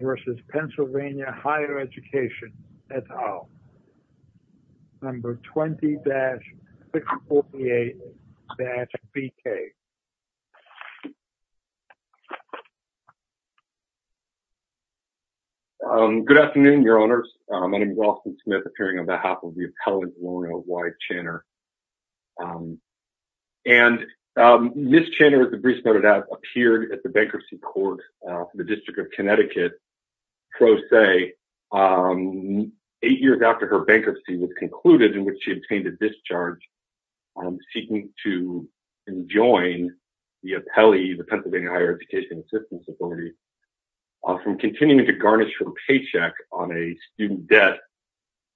versus Pennsylvania Higher Education et al, number 20-648-BK. Good afternoon your honors. My name is Austin Smith appearing on behalf of the Pennsylvania Higher Education Assistance Authority. And Ms. Channer, as the briefs noted out, appeared at the bankruptcy court for the District of Connecticut, pro se, eight years after her bankruptcy was concluded, in which she obtained a discharge, seeking to enjoin the appellee, the Pennsylvania Higher Education Assistance Authority, from continuing to garnish her paycheck on a student debt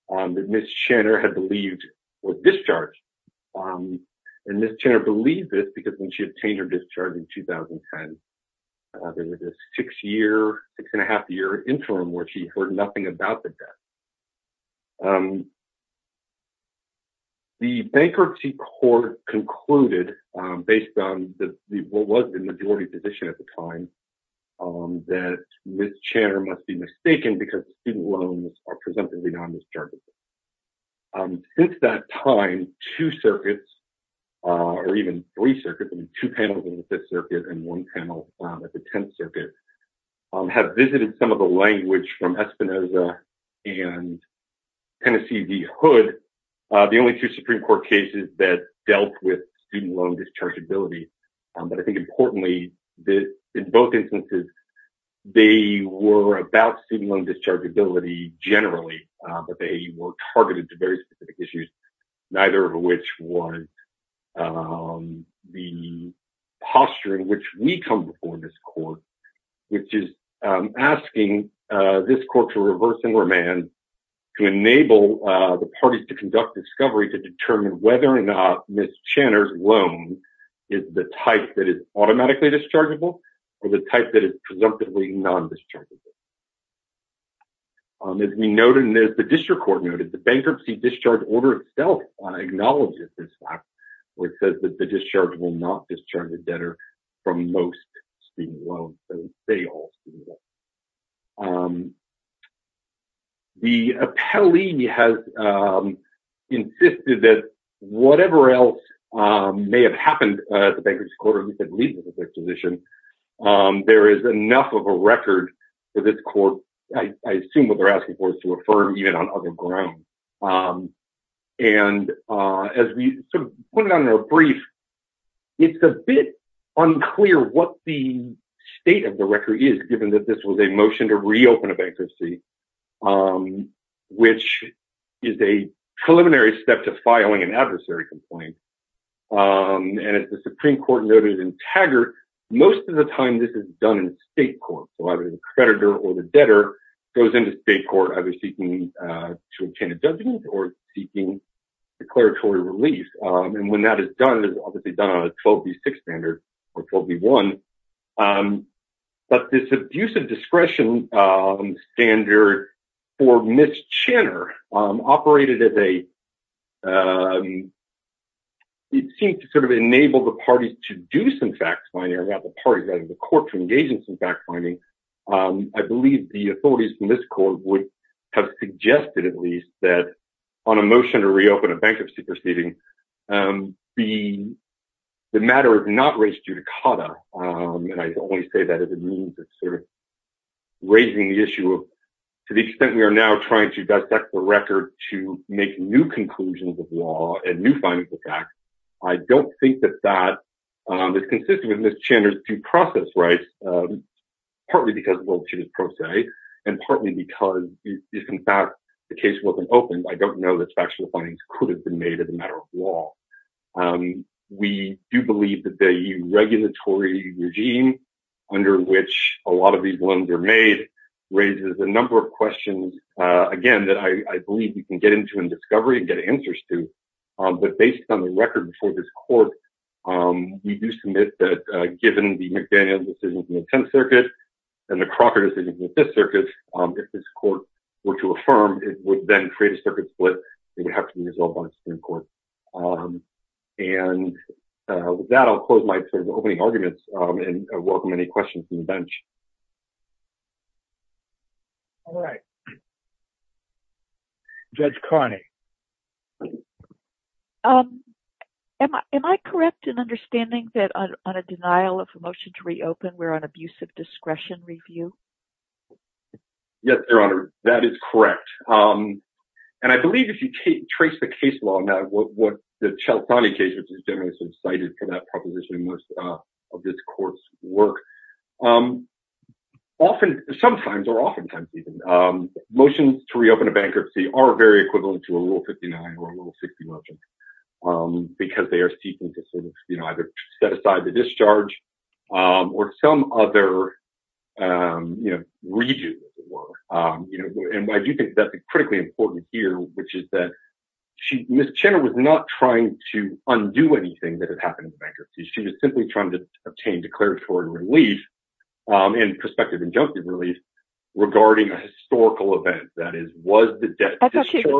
that Ms. Channer had believed was discharged. And Ms. Channer believed this because when she obtained her discharge in 2010, there was a six-year, six-and-a-half-year interim where she heard nothing about the debt. The bankruptcy court concluded, based on what was the majority position at the time, that Ms. Channer must be mistaken because student loans are presumptively non-dischargeable. Since that time, two circuits, or even three circuits, I mean two panels in the Fifth Circuit and one panel at the Tenth Circuit, have visited some of the language from Espinoza and Tennessee v. Hood, the only two Supreme Court cases that dealt with student loan dischargeability. But I think importantly, in both instances, they were about student loan dischargeability generally, but they were targeted to very specific issues, neither of which was the posture in which we come before this court, which is asking this court to reverse enromance, to enable the parties to conduct discovery to determine whether or not Ms. Channer's loan is the type that is automatically dischargeable or the type that is presumptively non-dischargeable. As we noted, and as the district court noted, the bankruptcy discharge order itself acknowledges this fact where it says that the discharge will not discharge the debtor from most student loans and sales. The appellee has insisted that whatever else may have happened at the bankruptcy court or at least at least at this exhibition, there is enough of a record for this court, I assume what they're asking for, is to affirm even on other grounds. And as we put it on our brief, it's a bit unclear what the state of the record is, given that this was a motion to reopen a bankruptcy, which is a preliminary step to filing an adversary complaint. And as the Supreme Court noted in Taggart, most of the time this is done in state court. So either the creditor or the debtor goes into state court either seeking to obtain a judgment or seeking declaratory relief. And when that is done, it's obviously done on a 12B6 standard or 12B1. But this abuse of discretion standard for Ms. Channer operated as a, it seemed to sort of enable the parties to do some fact-finding or have the parties or the court to engage in some fact-finding. I believe the authorities from this court would have suggested at least that on a motion to reopen a bankruptcy proceeding, the matter of not race judicata, and I only say that as a means of sort of raising the issue of to the extent we are now trying to dissect the record to make new conclusions of law and new findings of fact, I don't think that that is consistent with Ms. Channer's due process rights, partly because well-tuned pro se and partly because if in fact the case wasn't opened, I don't know that factual findings could have been made as a matter of law. We do believe that the regulatory regime under which a lot of these blunders are made raises a number of questions, again, that I believe we can get into in discovery and get answers to. But based on the record before this court, we do submit that given the McDaniel decision from the 10th Circuit and the Crocker decision from the 5th Circuit, if this court were to affirm, it would then create a circuit split that would have to be resolved by the Supreme Court. And with that, I'll close my opening arguments and welcome any questions from the bench. All right. Judge Carney. Am I correct in understanding that on a denial of a motion to reopen, we're on abusive discretion review? Yes, Your Honor, that is correct. And I believe if you trace the case law now, what the Cialtani case, which is generally cited for that proposition in most of this court's work, sometimes or oftentimes even, motions to reopen a bankruptcy are very equivalent to a Rule 59 or a Rule 60 motion because they are seeking to sort of either set aside the discharge or some other redo of the work. And I do think that's critically important here, which is that Ms. Chenner was not trying to undo anything that had happened in the bankruptcy. She was simply trying to obtain declaratory relief and prospective injunctive relief regarding a historical event. That is, was the debt a declaration?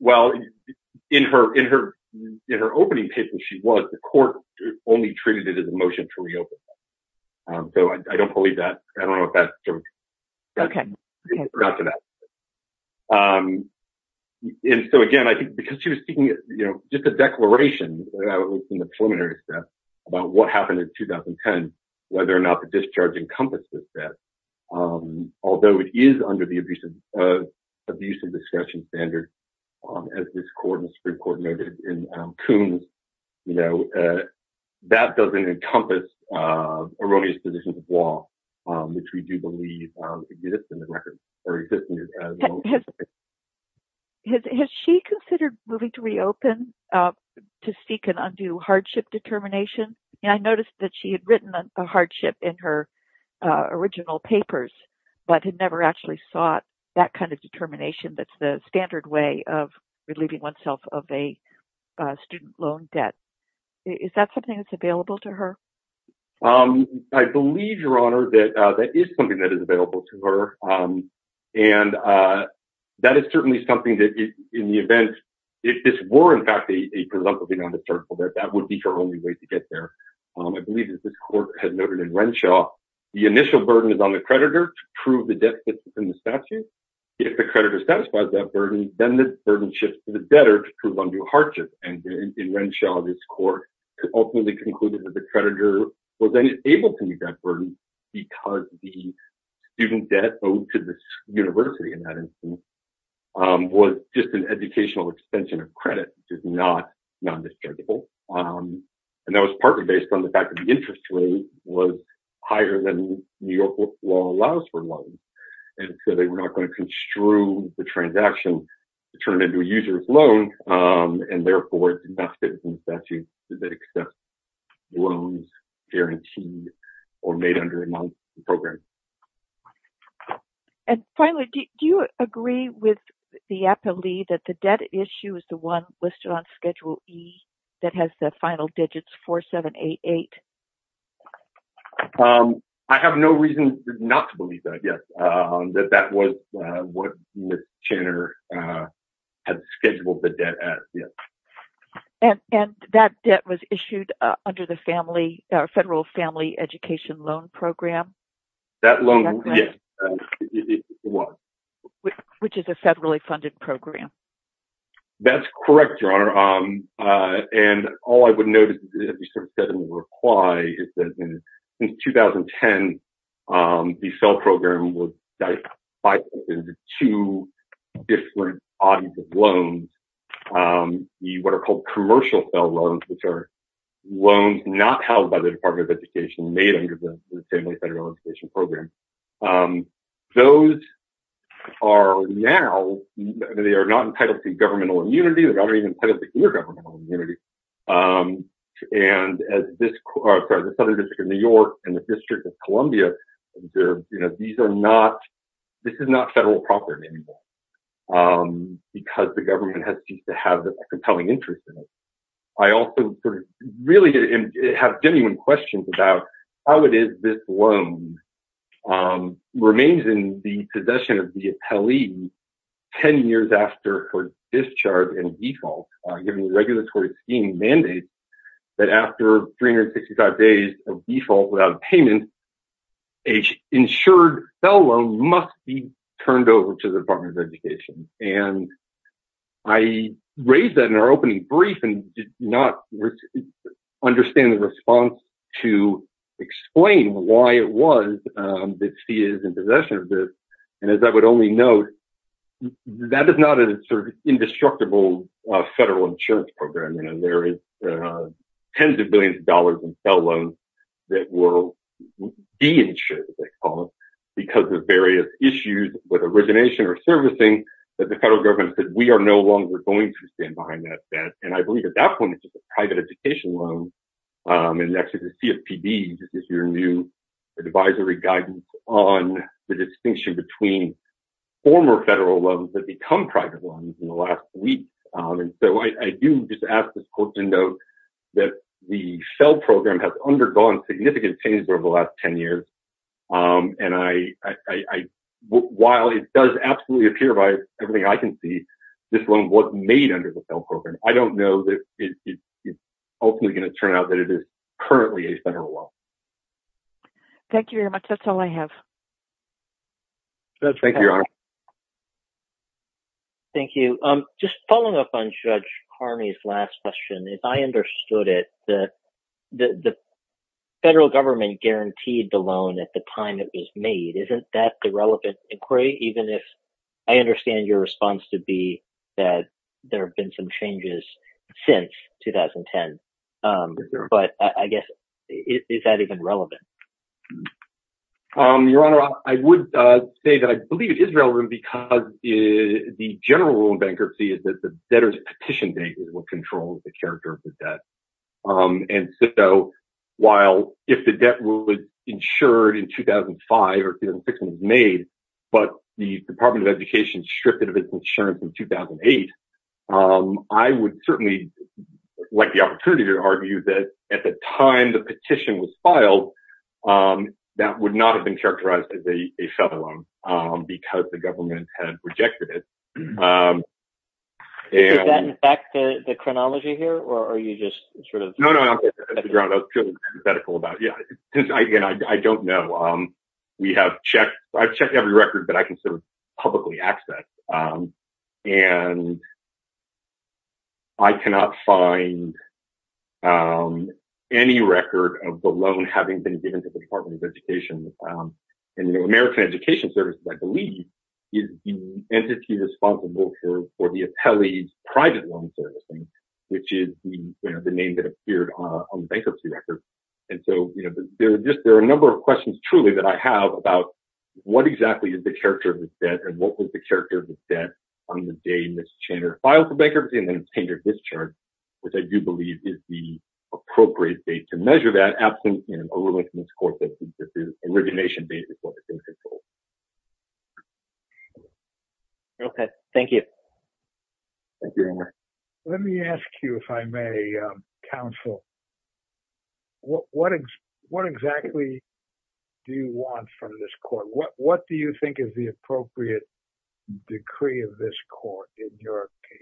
Well, in her opening paper, she was. The court only treated it as a motion to reopen. So I don't believe that. I don't know if that's true. Okay. And so again, I think because she was seeking, you know, just a declaration in the preliminary step about what happened in 2010, whether or not the discharge encompasses that, although it is under the abuse of discretion standard as this court noted in Coombs, you know, that doesn't encompass erroneous positions of law, which we do believe exists in the record. Has she considered moving to reopen to seek an undue hardship determination? I noticed that she had written a hardship in her original papers, but had never actually sought that kind of determination that's the standard way of relieving oneself of a student loan debt. Is that something that's available to her? I believe, Your Honor, that that is something that is available to her. And that is certainly something that in the event if this were in fact a presumptively non-discernible debt, that would be her only way to get there. I believe as this court had noted in Renshaw, the initial burden is on the creditor to prove the debt that's in the statute. If the creditor satisfies that burden, then the burden shifts to the debtor to prove undue hardship. And in Renshaw, this court ultimately concluded that the creditor was unable to meet that burden because the student debt owed to the university in that instance was just an educational extension of credit, which is not non-discernible. And that was partly based on the fact that the interest rate was higher than New York law allows for loans. And so they were not going to construe the transaction to turn it into a user's loan. And therefore, it's enough that it's in the statute that it accepts loans guaranteed or made under a non-discernible program. And finally, do you agree with the appellee that the debt issue is the one listed on Schedule E that has the final digits 4788? I have no reason not to believe that, yes. That that was what Ms. Channer had scheduled the debt as, yes. And that debt was issued under the Federal Family Education Loan Program? That loan, yes. Which is a federally funded program? That's correct, Your Honor. And all I would note, as you said in the reply, is that since 2010, the FFEL program was divided into two different bodies of loans, what are called commercial FFEL loans, which are those are now, they are not entitled to governmental immunity. They're not even entitled to intergovernmental immunity. And as this Southern District of New York and the District of Columbia, these are not, this is not federal property anymore because the government has ceased to have a compelling interest in it. I also really have genuine questions about how it is this loan remains in the possession of the appellee 10 years after her discharge and default, given the regulatory scheme mandates that after 365 days of default without payment, an insured FFEL loan must be turned over to the Department of Education. And I raised that in our opening brief and did not understand the response to explain why it was that FFEL is in possession of this. And as I would only note, that is not an indestructible federal insurance program. There is tens of billions of dollars in FFEL loans that were de-insured, as they call it, because of various issues with origination or servicing that the federal government said, we are no longer going to stand behind that debt. And I believe at that point, it's just a private education loan. And actually the CFPB, this is your new advisory guidance on the distinction between former federal loans that become private loans in the last week. And so I do just ask the folks to note that the FFEL program has undergone significant changes over the last 10 years. And while it does absolutely appear by everything I can see, this loan wasn't made under the FFEL program. I don't know that it's ultimately going to turn out that it is currently a federal loan. Thank you very much. That's all I have. Thank you. Just following up on Judge Harney's last question, if I understood it, the federal government guaranteed the loan at the time it was made. Isn't that the relevant inquiry, even if I understand your response to be that there have been some changes since 2010? But I guess, is that even relevant? Your Honor, I would say that I believe it is relevant because the general rule in bankruptcy is that the debtor's petition date is what controls the character of the debt. And so while if the debt was insured in 2005 or 2006 when it was made, but the Department of Education stripped it of its insurance in 2008, I would certainly like the opportunity to argue that at the time the petition was filed, that would not have been characterized as a federal loan because the government had rejected it. Does that affect the chronology here? I don't know. I've checked every record that I can publicly access. I cannot find any record of the loan having been given to the Department of Education. The American Education Service, I believe, is the entity responsible for the appellee's private loan servicing, which is the name that appeared on the bankruptcy record. And so there are a number of questions, truly, that I have about what exactly is the character of this debt and what was the character of this debt on the day Ms. Chandler filed for bankruptcy and then Ms. Chandler discharged, which I do believe is the appropriate date to measure that. Absolutely. Okay. Thank you. Let me ask you, if I may, counsel, what exactly do you want from this court? What do you think is the appropriate decree of this court in your case?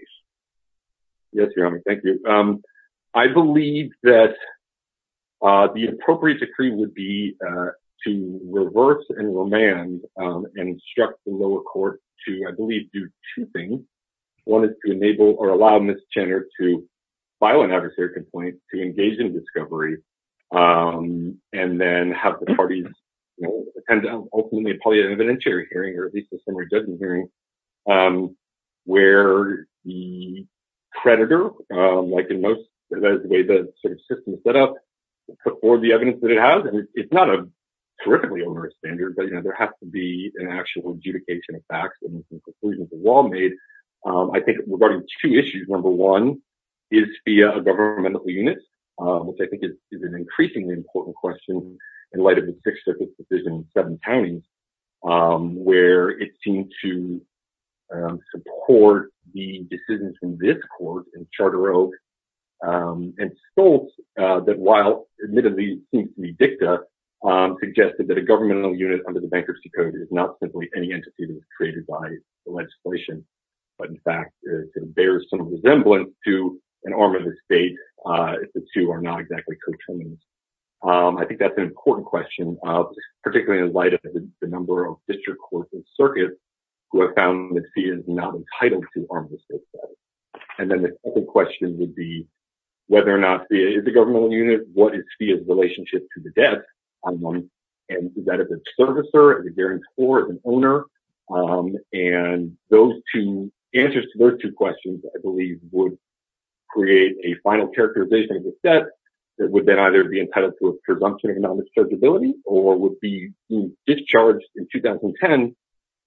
Yes, Your Honor. Thank you. I believe that the appropriate decree would be to reverse and remand and instruct the lower court to, I believe, do two things. One is to enable or allow Ms. Chandler to file an adversary complaint to engage in discovery and then have the parties attend, ultimately, an evidentiary hearing or at least a summary judgment hearing where the creditor, like in most advisory systems set up, put forward the evidence that it has. And it's not a terrifically onerous standard, but there has to be an actual adjudication of facts and conclusions of law made. I think regarding two issues, number one is via a governmental unit, which I think is an increasingly important question in light of the Sixth Circuit's decision in seven counties where it seemed to support the decisions in this court in Charter Oak and Stoltz that while admittedly seems to be dicta, suggested that a governmental unit under the bankruptcy code is not simply any entity that was created by the legislation, but in fact it bears some resemblance to an arm of the state if the two are not exactly coterminous. I think that's an important question particularly in light of the number of district courts and circuits who have found Ms. Fia is not entitled to arm of the state status. And then the second question would be whether or not Ms. Fia is a governmental unit, what is Fia's relationship to the debt, and is that of a servicer, a guarantor, an owner? And those two answers to those two questions I believe would create a final characterization of the debt that would then either be entitled to a presumption of non-dischargeability or would be discharged in 2010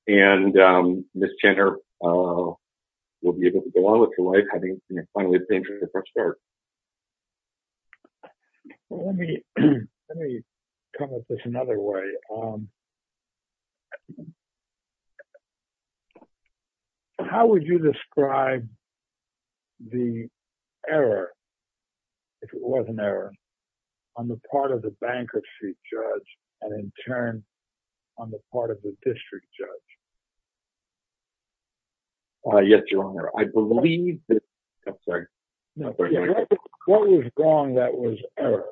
and Ms. Chandler will be able to go on with her life having finally been discharged. Let me come at this another way. How would you describe the error, if it was an error, on the part of the bankruptcy judge and in turn on the part of the district judge? Yes, Your Honor, I believe... I'm sorry. What was wrong that was error?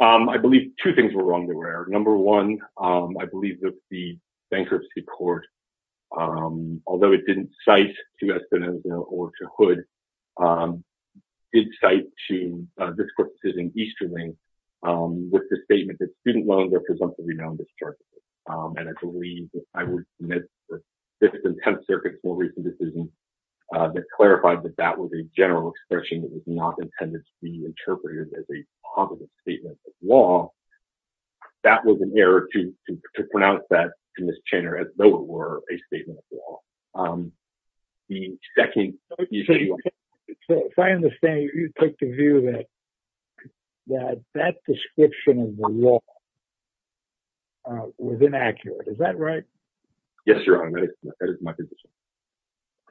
I believe two things were wrong that were error. Number one, I believe that the bankruptcy court, although it didn't cite to Espinosa or to Hood, it did cite to this court's decision, Easterling, with the statement that student loans are presumptively non-dischargeable. And I believe I would submit that the Fifth and Tenth Circuit's more recent decision that clarified that that was a general expression that was not intended to be interpreted as a positive statement of law, that was an error to pronounce that to Ms. Chandler as though it were a statement of law. If I understand, you take the view that that description of the law was inaccurate. Is that right? Yes, Your Honor, that is my position.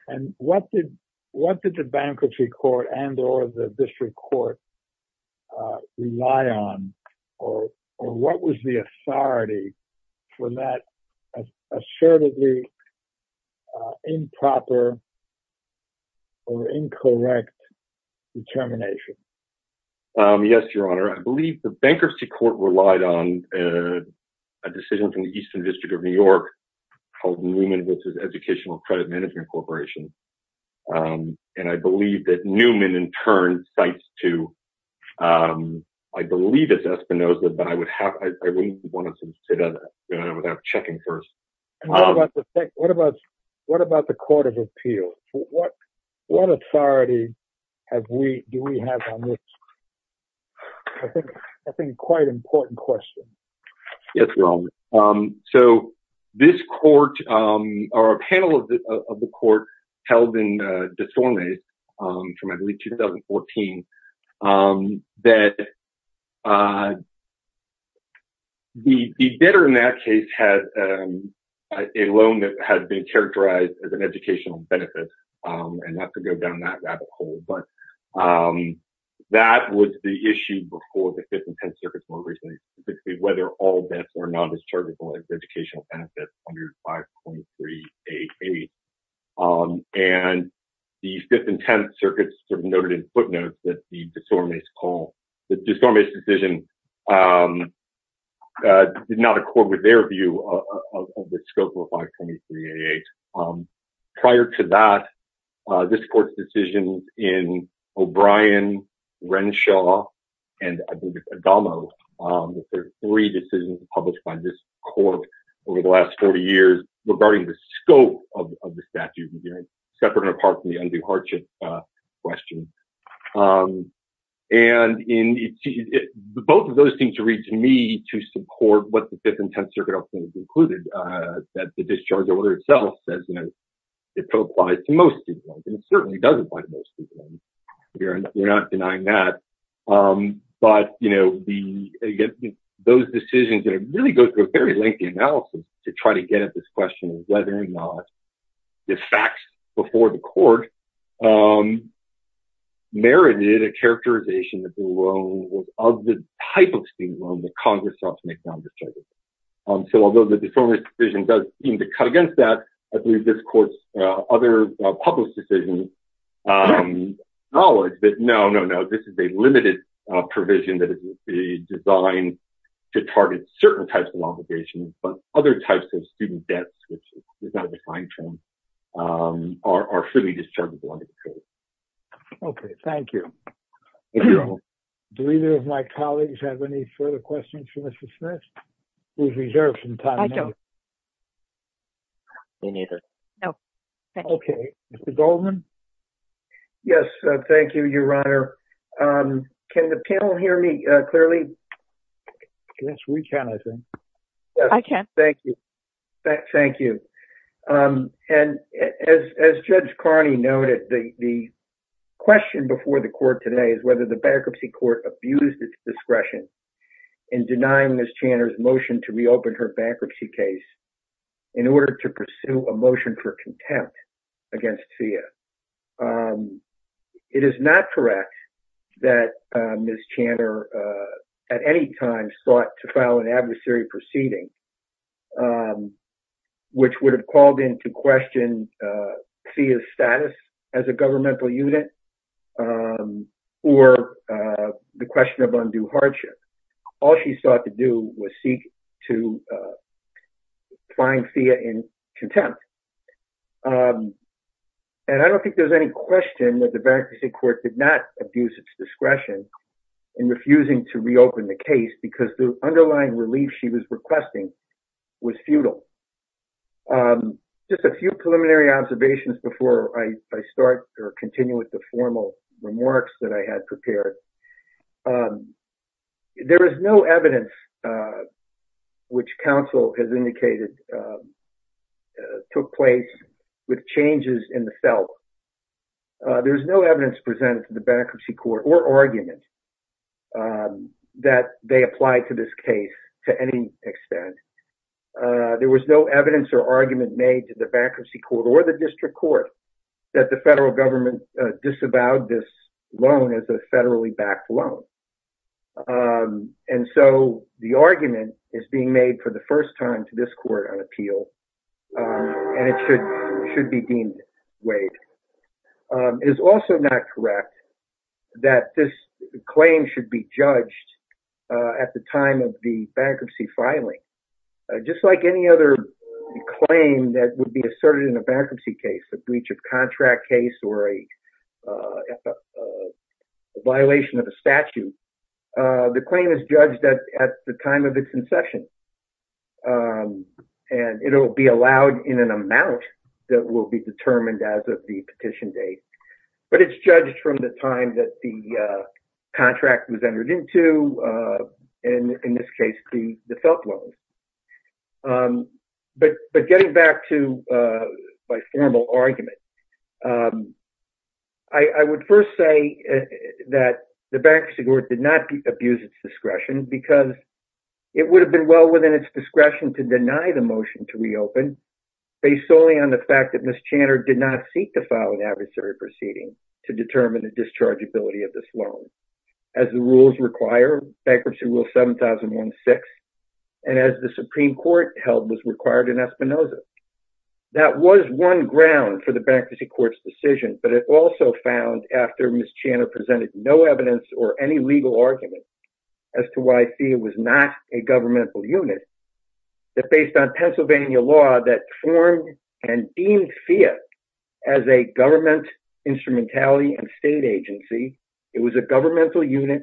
And what did the bankruptcy court and or the district court rely on or what was the authority for that assertively improper or incorrect determination? Yes, Your Honor, I believe the bankruptcy court relied on a decision from the Eastern District of New York called Newman v. Educational Credit Management Corporation. And I believe that Newman in turn cites to I believe it's Espinosa, but I wouldn't want to sit on that without checking first. What about the Court of Appeals? What authority do we have on this? I think it's quite an important question. Yes, Your Honor. So this court or a panel of the court held in De Storme from I believe 2014 that the debtor in that case had a loan that had been characterized as an educational benefit and not to go down that rabbit hole. But that was the issue before the Fifth and Tenth Circuits more recently specifically whether all debts were non-dischargeable as educational benefits under 5.388. And the Fifth and Tenth Circuits noted in footnotes that the De Storme's call, the De Storme's decision did not accord with their view of the scope of 5.2388. Prior to that, this court's decision in O'Brien, Renshaw, and I believe it's Adamo were three decisions published by this court over the last 40 years regarding the scope of And both of those seem to read to me to support what the Fifth and Tenth Circuit also concluded that the discharge order itself says it applies to most people and it certainly doesn't apply to most people. We're not denying that. But those decisions really go through a very lengthy analysis to try to get at this question of whether or not the facts before the court merited a characterization of the type of student loan that Congress sought to make non-dischargeable. So although the De Storme's provision does seem to cut against that, I believe this court's other published decisions acknowledge that no, no, no, this is a limited provision that is designed to target certain types of obligations, but other types of student debts, which is not a defined term, are fully dischargeable under the code. Okay, thank you. Do either of my colleagues have any further questions for Mr. Smith? I don't. Me neither. Okay, Mr. Goldman? Yes, thank you, Your Honor. Can the panel hear me clearly? Yes, we can, I think. I can. Thank you. And as Judge Carney noted, the question before the court today is whether the bankruptcy court abused its discretion in denying Ms. Chandler's motion to reopen her bankruptcy case in order to pursue a motion for contempt against FEA. It is not correct that Ms. Chandler at any time sought to file an adversary proceeding which would have called into question FEA's status as a governmental unit or the question of undue hardship. All she sought to do was seek to find FEA in contempt. And I don't think there's any question that the bankruptcy court did not abuse its discretion in refusing to reopen the case because the underlying relief she was requesting was futile. Just a few preliminary observations before I start or continue with the formal remarks that I had prepared. There is no evidence which counsel has indicated took place with changes in the felt. There's no evidence presented to the bankruptcy court or argument that they applied to this case to any extent. There was no evidence or argument made to the bankruptcy court or the district court that the federal government disavowed this loan as a federally backed loan. And so the argument is being made for the first time to this court on appeal. And it should be deemed weighed. It is also not correct that this claim should be judged at the time of the bankruptcy filing. Just like any other claim that would be asserted in a bankruptcy case, a breach of contract case or a violation of a statute, the claim is judged at the time of the concession. And it will be allowed in an amount that will be determined as of the petition date. But it's judged from the time that the contract was entered into. And in this case, the felt loan. But getting back to my formal argument, I would first say that the bankruptcy court did not abuse its discretion because it would have been well within its discretion to deny the motion to reopen based solely on the fact that Ms. Chanter did not seek to file an adversary proceeding to determine the dischargeability of this loan. As the rules require, bankruptcy is subject to rule 7016 and as the Supreme Court held was required in Espinosa. That was one ground for the bankruptcy court's decision. But it also found after Ms. Chanter presented no evidence or any legal argument as to why FIIA was not a governmental unit that based on Pennsylvania law that formed and deemed FIIA as a government instrumentality and state agency. It was a governmental unit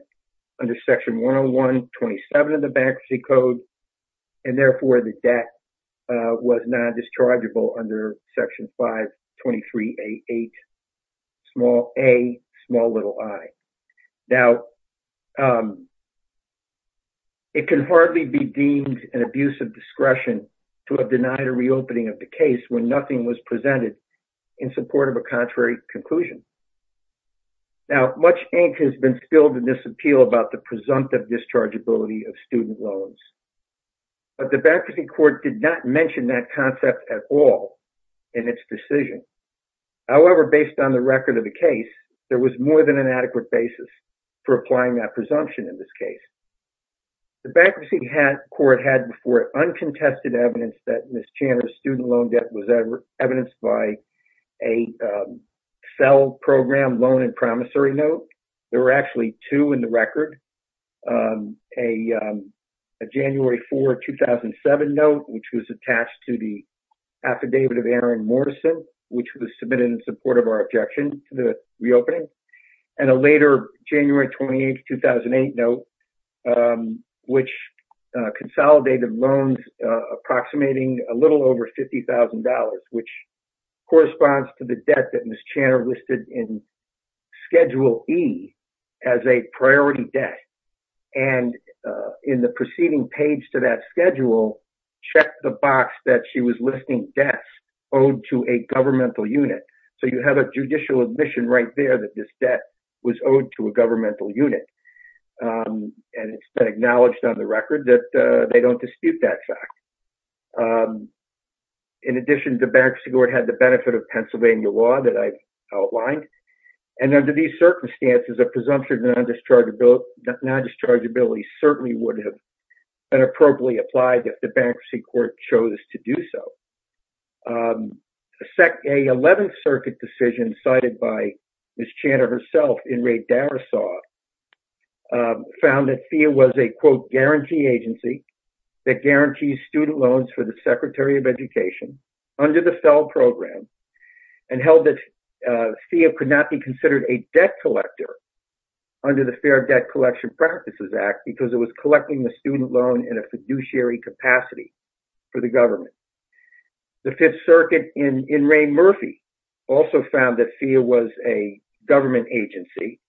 under section 101, 27 of the bankruptcy code. And therefore, the debt was not dischargeable under section 523A. Now, it can hardly be deemed an abuse of discretion to have denied a reopening of the case when nothing was presented in support of a contrary conclusion. Now, much ink has been spilled in this appeal about the presumptive dischargeability of student loans. But the bankruptcy court did not mention that concept at all in its decision. However, based on the record of the case, there was more than an adequate basis for applying that presumption in this case. The bankruptcy court had before it uncontested evidence that Ms. Chanter's student loan debt was evidenced by a cell program loan and promissory note. There were actually two in the record. A January 4, 2007 note, which was attached to the affidavit of Aaron reopening, and a later January 28, 2008 note, which consolidated loans approximating a little over $50,000, which corresponds to the debt that Ms. Chanter listed in Schedule E as a priority debt. And in the preceding page to that schedule, check the right there that this debt was owed to a governmental unit. And it's been acknowledged on the record that they don't dispute that fact. In addition, the bankruptcy court had the benefit of Pennsylvania law that I outlined. And under these circumstances, a presumption of non-dischargeability certainly would have been appropriately applied if the bankruptcy court chose to do so. A 11th Circuit decision cited by Ms. Chanter herself in Ray Darrisaw found that FEA was a quote, guarantee agency that guarantees student loans for the Secretary of Education under the cell program and held that FEA could not be considered a debt collector under the Fair Debt Collection Practices Act because it was collecting the student loan in a fiduciary capacity for the government. The 5th Circuit in Ray Murphy also found that FEA was a government agency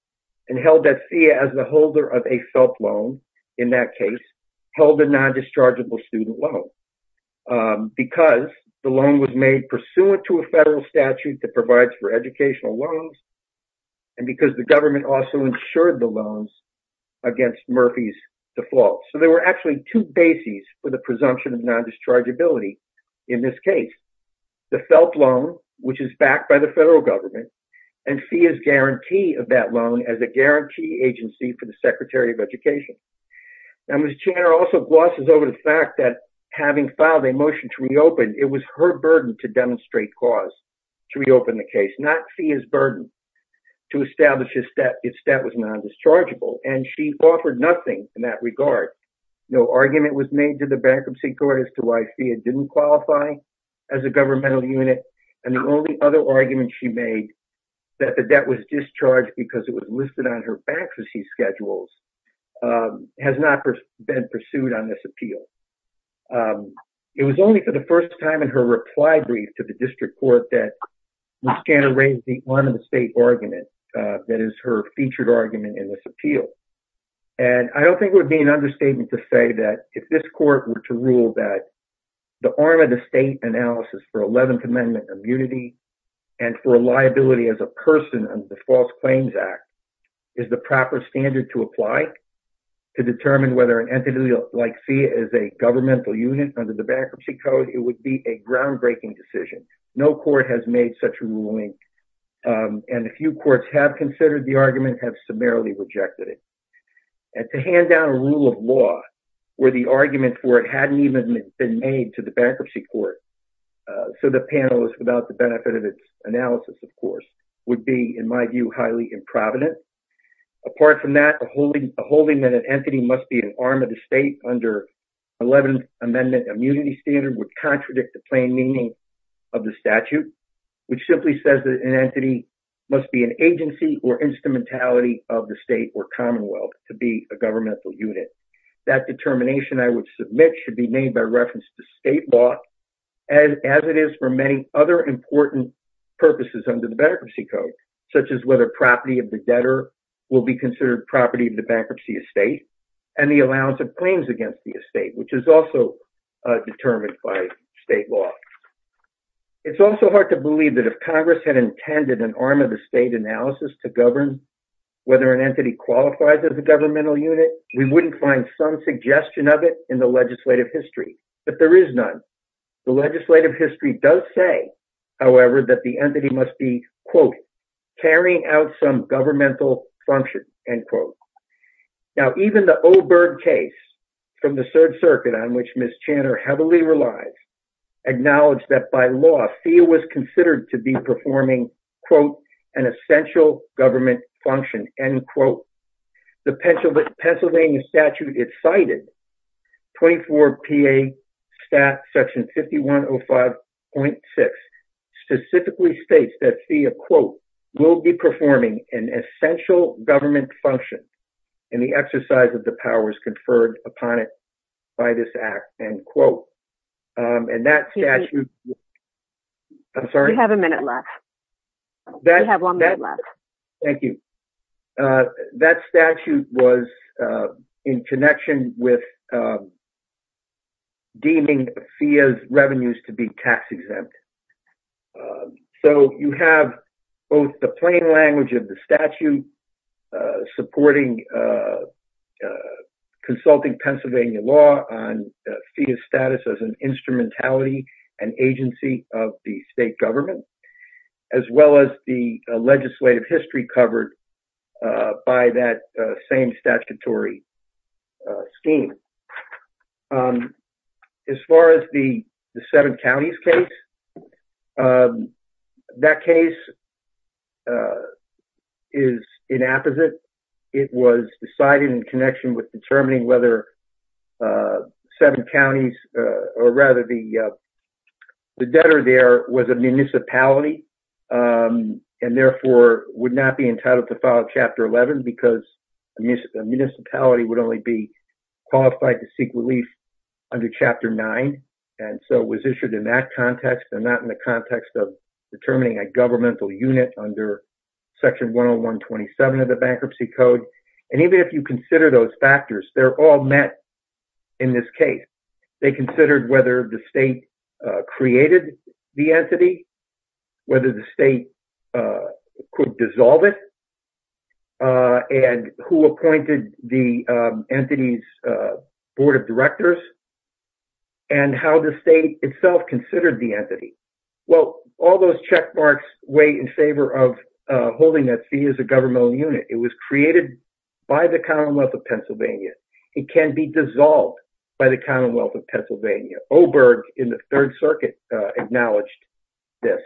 and held that FEA as the holder of a felt loan, in that case, held a non-dischargeable student loan because the government also insured the loans against Murphy's default. So there were actually two bases for the presumption of non-dischargeability in this case. The felt loan, which is backed by the federal government, and FEA's guarantee of that loan as a guarantee agency for the Secretary of Education. Now Ms. Chanter also glosses over the fact that having filed a motion to reopen, it was her burden to demonstrate cause to reopen the case, not FEA's burden to establish if debt was non-dischargeable and she offered nothing in that regard. No argument was made to the Bankruptcy Court as to why FEA didn't qualify as a governmental unit and the only other argument she made that the debt was discharged because it was listed on her bankruptcy schedules has not been pursued on this appeal. It was only for the first time in her reply brief to the district court that Ms. Chanter raised the arm of the state argument that is her featured argument in this appeal. And I don't think it would be an understatement to say that if this court were to rule that the arm of the state analysis for 11th Amendment immunity and for liability as a person under the False Claims Act is the proper standard to apply to determine whether an entity like FEA is a governmental unit under the bankruptcy code, it would be a groundbreaking decision. No court has made such a ruling and a few courts have considered the argument, have summarily rejected it. And to hand down a rule of law where the argument for it hadn't even been made to the Bankruptcy Court, so the panelists without the benefit of its analysis, of course, would be, in my view, highly improvident. Apart from that, a holding that an entity must be an arm of the state under 11th Amendment immunity standard would contradict the plain meaning of the statute, which simply says that an entity must be an agency or instrumentality of the state or commonwealth to be a governmental unit. That determination I would submit should be made by reference to state law as it is for many other important purposes under the bankruptcy code, such as whether property of the debtor will be considered property of the bankruptcy estate and the allowance of claims against the estate, which is also Congress had intended an arm of the state analysis to govern whether an entity qualifies as a governmental unit. We wouldn't find some suggestion of it in the legislative history, but there is none. The legislative history does say, however, that the entity must be, quote, carrying out some governmental function, end quote. Now, even the Oberg case from the Third Circuit on which Ms. Channer heavily relies, acknowledged that by law, FEA was considered to be performing, quote, an essential government function, end quote. The Pennsylvania statute it cited, 24 PA stat section 5105.6, specifically states that FEA, quote, will be performing an essential government function and the exercise of the powers conferred upon it by this act, end quote. And that statute, I'm sorry. You have a minute left. You have one minute left. Thank you. That statute was in connection with deeming FEA's revenues to be tax exempt. So you have both the plain language of the statute supporting consulting Pennsylvania law on FEA's status as an instrumentality and agency of the state government, as well as the legislative history covered by that same statutory scheme. As far as the Seven Counties case, that case is inapposite. It was decided in connection with determining whether Seven Counties, or rather the debtor there was a municipality and therefore would not be entitled to file Chapter 11 because a municipality would only be qualified to seek relief under Chapter 9. And so it was issued in that context and not in the context of determining a governmental unit under Section 10127 of the Bankruptcy Code. And even if you consider those factors, they're all met in this case. They considered whether the state created the entity, whether the state could dissolve it, and who appointed the entity's board of directors, and how the state itself considered the entity. Well, all those check marks weigh in favor of holding that FEA is a governmental unit. It was created by the Commonwealth of Pennsylvania. It can be dissolved by the Commonwealth of Pennsylvania. Oberg in the Third Circuit acknowledged this.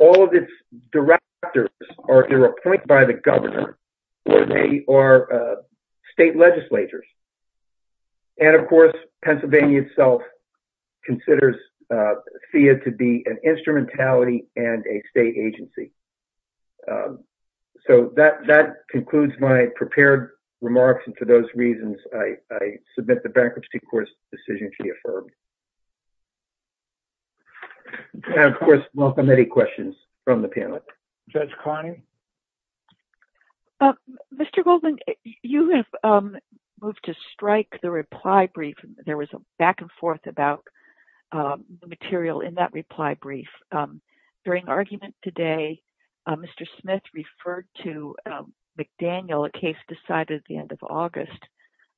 All of its directors are appointed by the governor, or they are state legislators. And of course, Pennsylvania itself considers FEA to be an instrumentality and a state agency. So that concludes my prepared remarks. And for those reasons, I submit the Bankruptcy Court's decision to be affirmed. And of course, welcome any questions from the panel. Judge Carney? Mr. Goldman, you have moved to strike the reply brief. There was a back and forth about the material in that reply brief. During argument today, Mr. Smith referred to McDaniel, a case decided at the end of August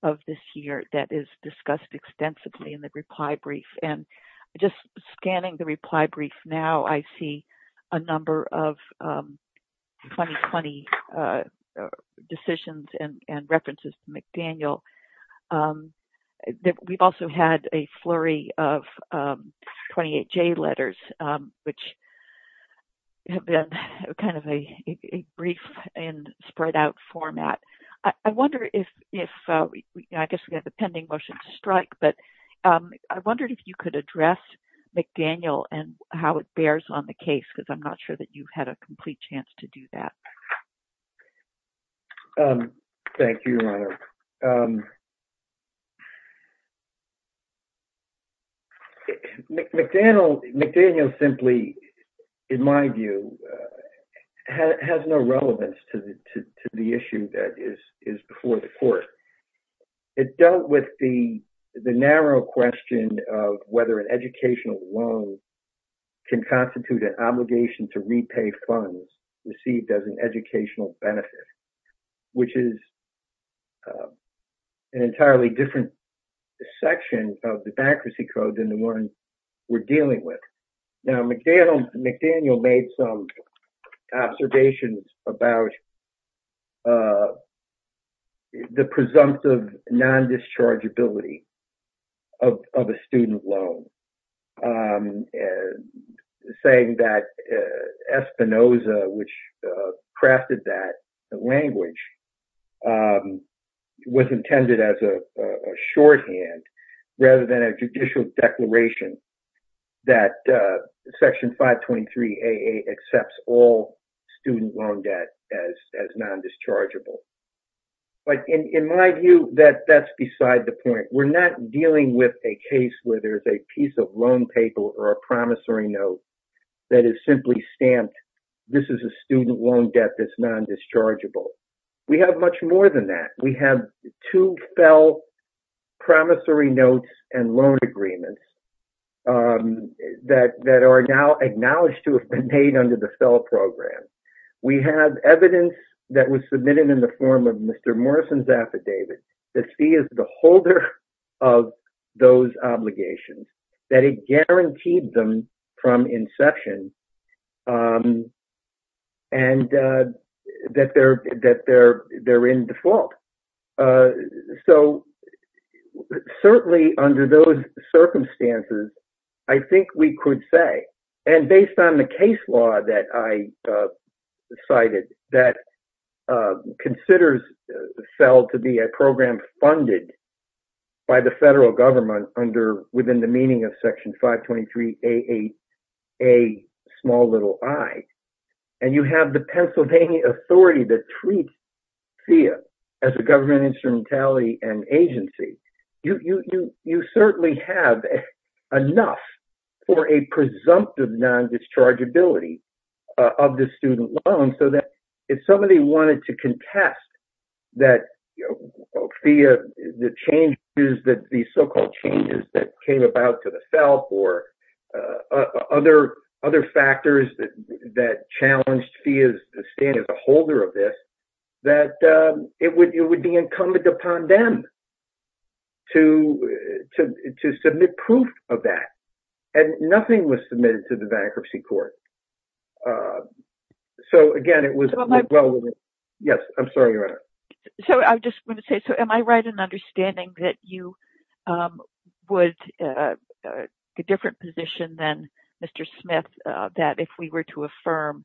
of this year that is discussed extensively in the reply brief. And just scanning the reply brief now, I see a number of 2020 decisions and references to McDaniel. We've also had a flurry of 28J letters, which have been kind of a brief and I guess we have a pending motion to strike, but I wondered if you could address McDaniel and how it bears on the case, because I'm not sure that you had a complete chance to do that. Thank you, Your Honor. McDaniel simply, in my view, has no relevance to the issue that is before the court. It dealt with the narrow question of whether an educational loan can constitute an obligation to repay funds received as an educational benefit, which is an entirely different section of the bankruptcy code than the one we're dealing with. McDaniel made some observations about the presumptive non-dischargeability of a student loan, saying that Espinoza, which is a short-hand rather than a judicial declaration, that Section 523AA accepts all student loan debt as non-dischargeable. But in my view, that's beside the point. We're not dealing with a case where there's a piece of loan paper or a promissory note that is simply stamped, this is a student loan debt that's non-dischargeable. We have much more than that. We have two fell promissory notes and loan agreements that are now acknowledged to have been paid under the fell program. We have evidence that was submitted in the form of Mr. Morrison's affidavit that he is the holder of those obligations, that it guaranteed them from inception and that they're in default. So certainly under those circumstances, I think we could say, and based on the case law that I cited, that considers fell to be a program funded by the federal government within the meaning of Section 523AA, a small little I. And you have the Pennsylvania authority that treats FEA as a government instrumentality and agency. You certainly have enough for a presumptive non-dischargeability of the student loan so that if somebody wanted to contest that FEA, the so-called changes that came about to the fell or other factors that challenged FEA's stand as a holder of this, that it would be incumbent upon them to submit proof of that. And nothing was submitted to the bankruptcy court. So again, it was... So I just want to say, so am I right in understanding that you would take a different position than Mr. Smith, that if we were to affirm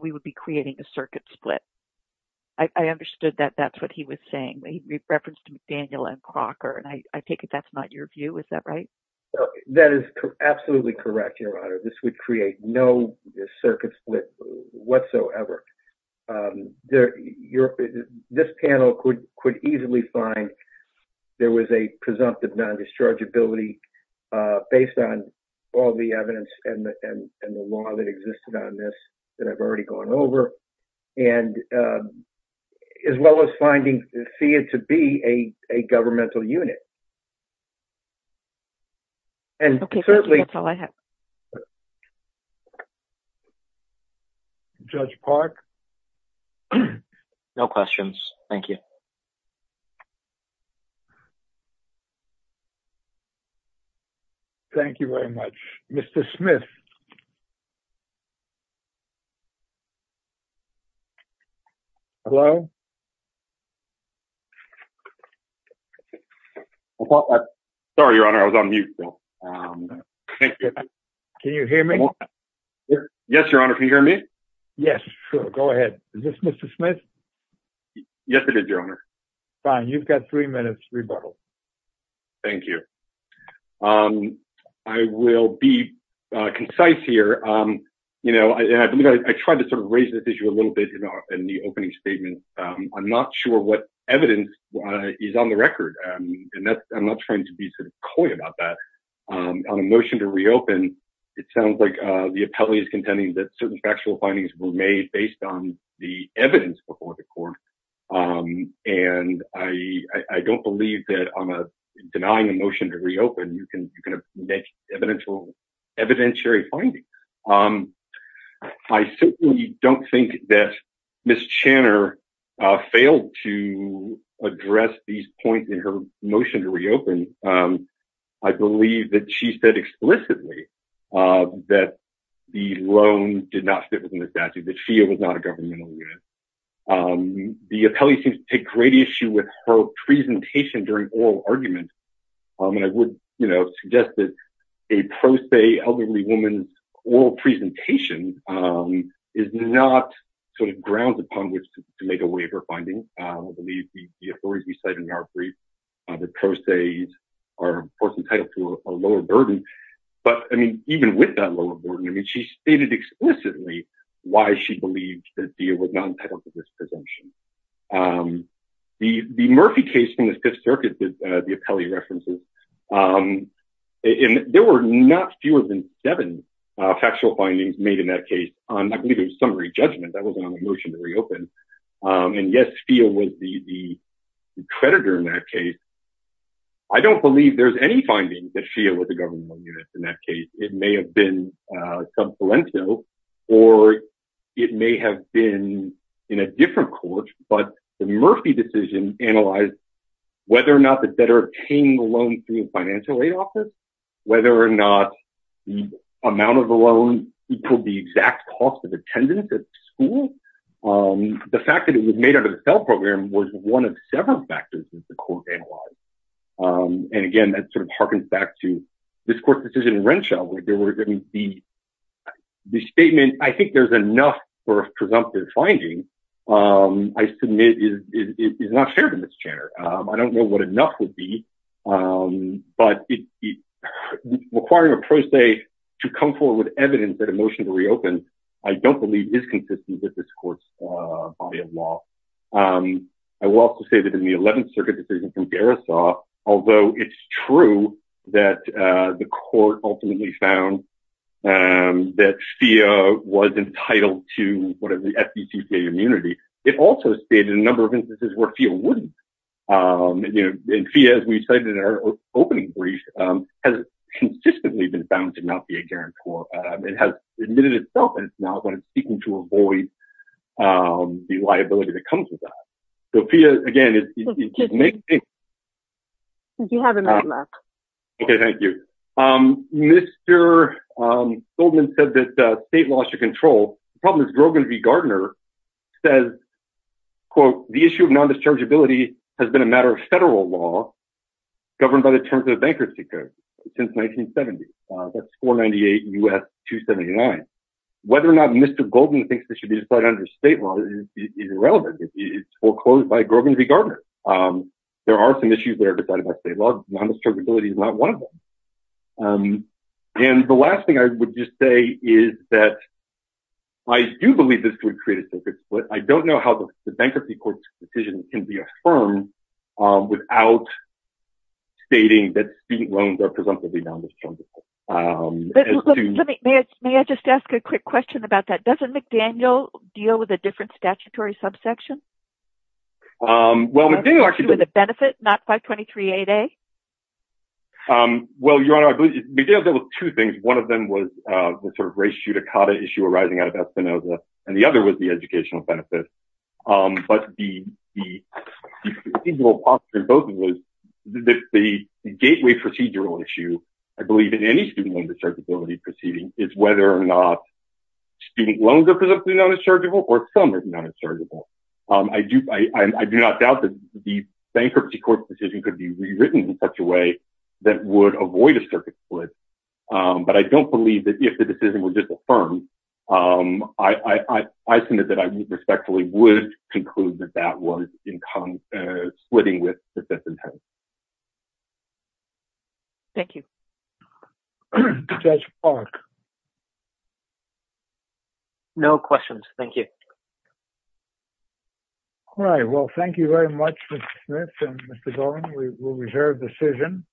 we would be creating a circuit split? I understood that that's what he was saying. He referenced Daniel M. Crocker, and I take it that's not your view. Is that right? That is absolutely correct, Your Honor. This would create no circuit split whatsoever. This panel could easily find there was a presumptive non-dischargeability based on all the evidence and the law that existed on this that I've already gone over, as well as finding FEA to be a governmental unit. Judge Park? No questions. Thank you. Thank you very much. Mr. Smith? Hello? Sorry, Your Honor. I was on mute. Can you hear me? Yes, Your Honor. Can you hear me? Fine. You've got three minutes rebuttal. Thank you. I will be concise here. I tried to raise this issue a little bit in the opening statement. I'm not sure what evidence is on the record. I'm not trying to be coy about that. On a motion to reopen, it sounds like the appellee is contending that certain factual findings were made based on the evidence before the court. I don't believe that I'm denying a motion to reopen. You can make evidentiary findings. I simply don't think that Ms. Channer failed to address these points in her motion to reopen. I believe that she said explicitly that the loan did not fit within the statute, that FIA was not a governmental unit. The appellee seems to take great issue with her presentation during oral argument. I would suggest that a pro se elderly woman's oral presentation is not grounds upon which to make a waiver finding. I believe the authorities recited in our brief that pro se's are of course entitled to a lower burden. Even with that lower burden, she stated explicitly why she believed that FIA was not entitled to this presumption. The Murphy case from the Fifth Circuit, the appellee references, there were not fewer than seven factual findings made in that case. I believe it was summary judgment. That wasn't on the motion to reopen. And yes, FIA was the creditor in that case. I don't believe there's any findings that FIA was a governmental unit in that case. It may have been sub salento or it may have been in a different court, but the Murphy decision analyzed whether or not the debtor paying the loan through a financial aid office, whether or not the amount of the loan equaled the exact cost of attendance at the school. The fact that it was made under the cell program was one of several factors that the court analyzed. Again, that harkens back to this court's decision in Renshaw. I think there's enough for a presumptive finding. I submit it is not fair to say to come forward with evidence that a motion to reopen, I don't believe is consistent with this court's body of law. I will also say that in the Eleventh Circuit decision from Garisoff, although it's true that the court ultimately found that FIA was entitled to whatever the FDCPA immunity, it also stated a number of instances where FIA wouldn't. FIA, as we cited in our opening brief, has consistently been found to not be a guarantor. It has admitted itself and is now seeking to avoid the liability that comes with that. Mr. Goldman said that the state lost control. The problem is Grogan v. Gardner says, quote, the issue of non-dischargeability has been a matter of federal law governed by the terms of the Bankruptcy Code since 1970. That's 498 U.S. 279. Whether or not Mr. Goldman thinks this should be decided under state law is irrelevant. It's foreclosed by Grogan v. Gardner. There are some issues that are decided by state law. Non-dischargeability is not one of them. And the last thing I would just say is that I do believe this would create a circuit, but I don't know how the Bankruptcy Court's decision can be affirmed without stating that state loans are presumptively non-dischargeable. May I just ask a quick question about that? Doesn't McDaniel deal with a different issue? Well, Your Honor, I believe McDaniel deals with two things. One of them was the sort of race judicata issue arising out of Espinoza, and the other was the educational benefits. The gateway procedural issue, I believe, in any student loan dischargeability proceeding is whether or not student loans are presumptively non-dischargeable or some are non-dischargeable. I do not doubt that the Bankruptcy Court's decision could be rewritten in such a way that would avoid a circuit split, but I don't believe that if the decision was disaffirmed, I think that I respectfully would conclude that that was splitting with the system. Thank you. Judge Clark? No questions. Thank you. All right. Well, thank you very much, Mr. Smith and Mr. Dolan. We will reserve the decision.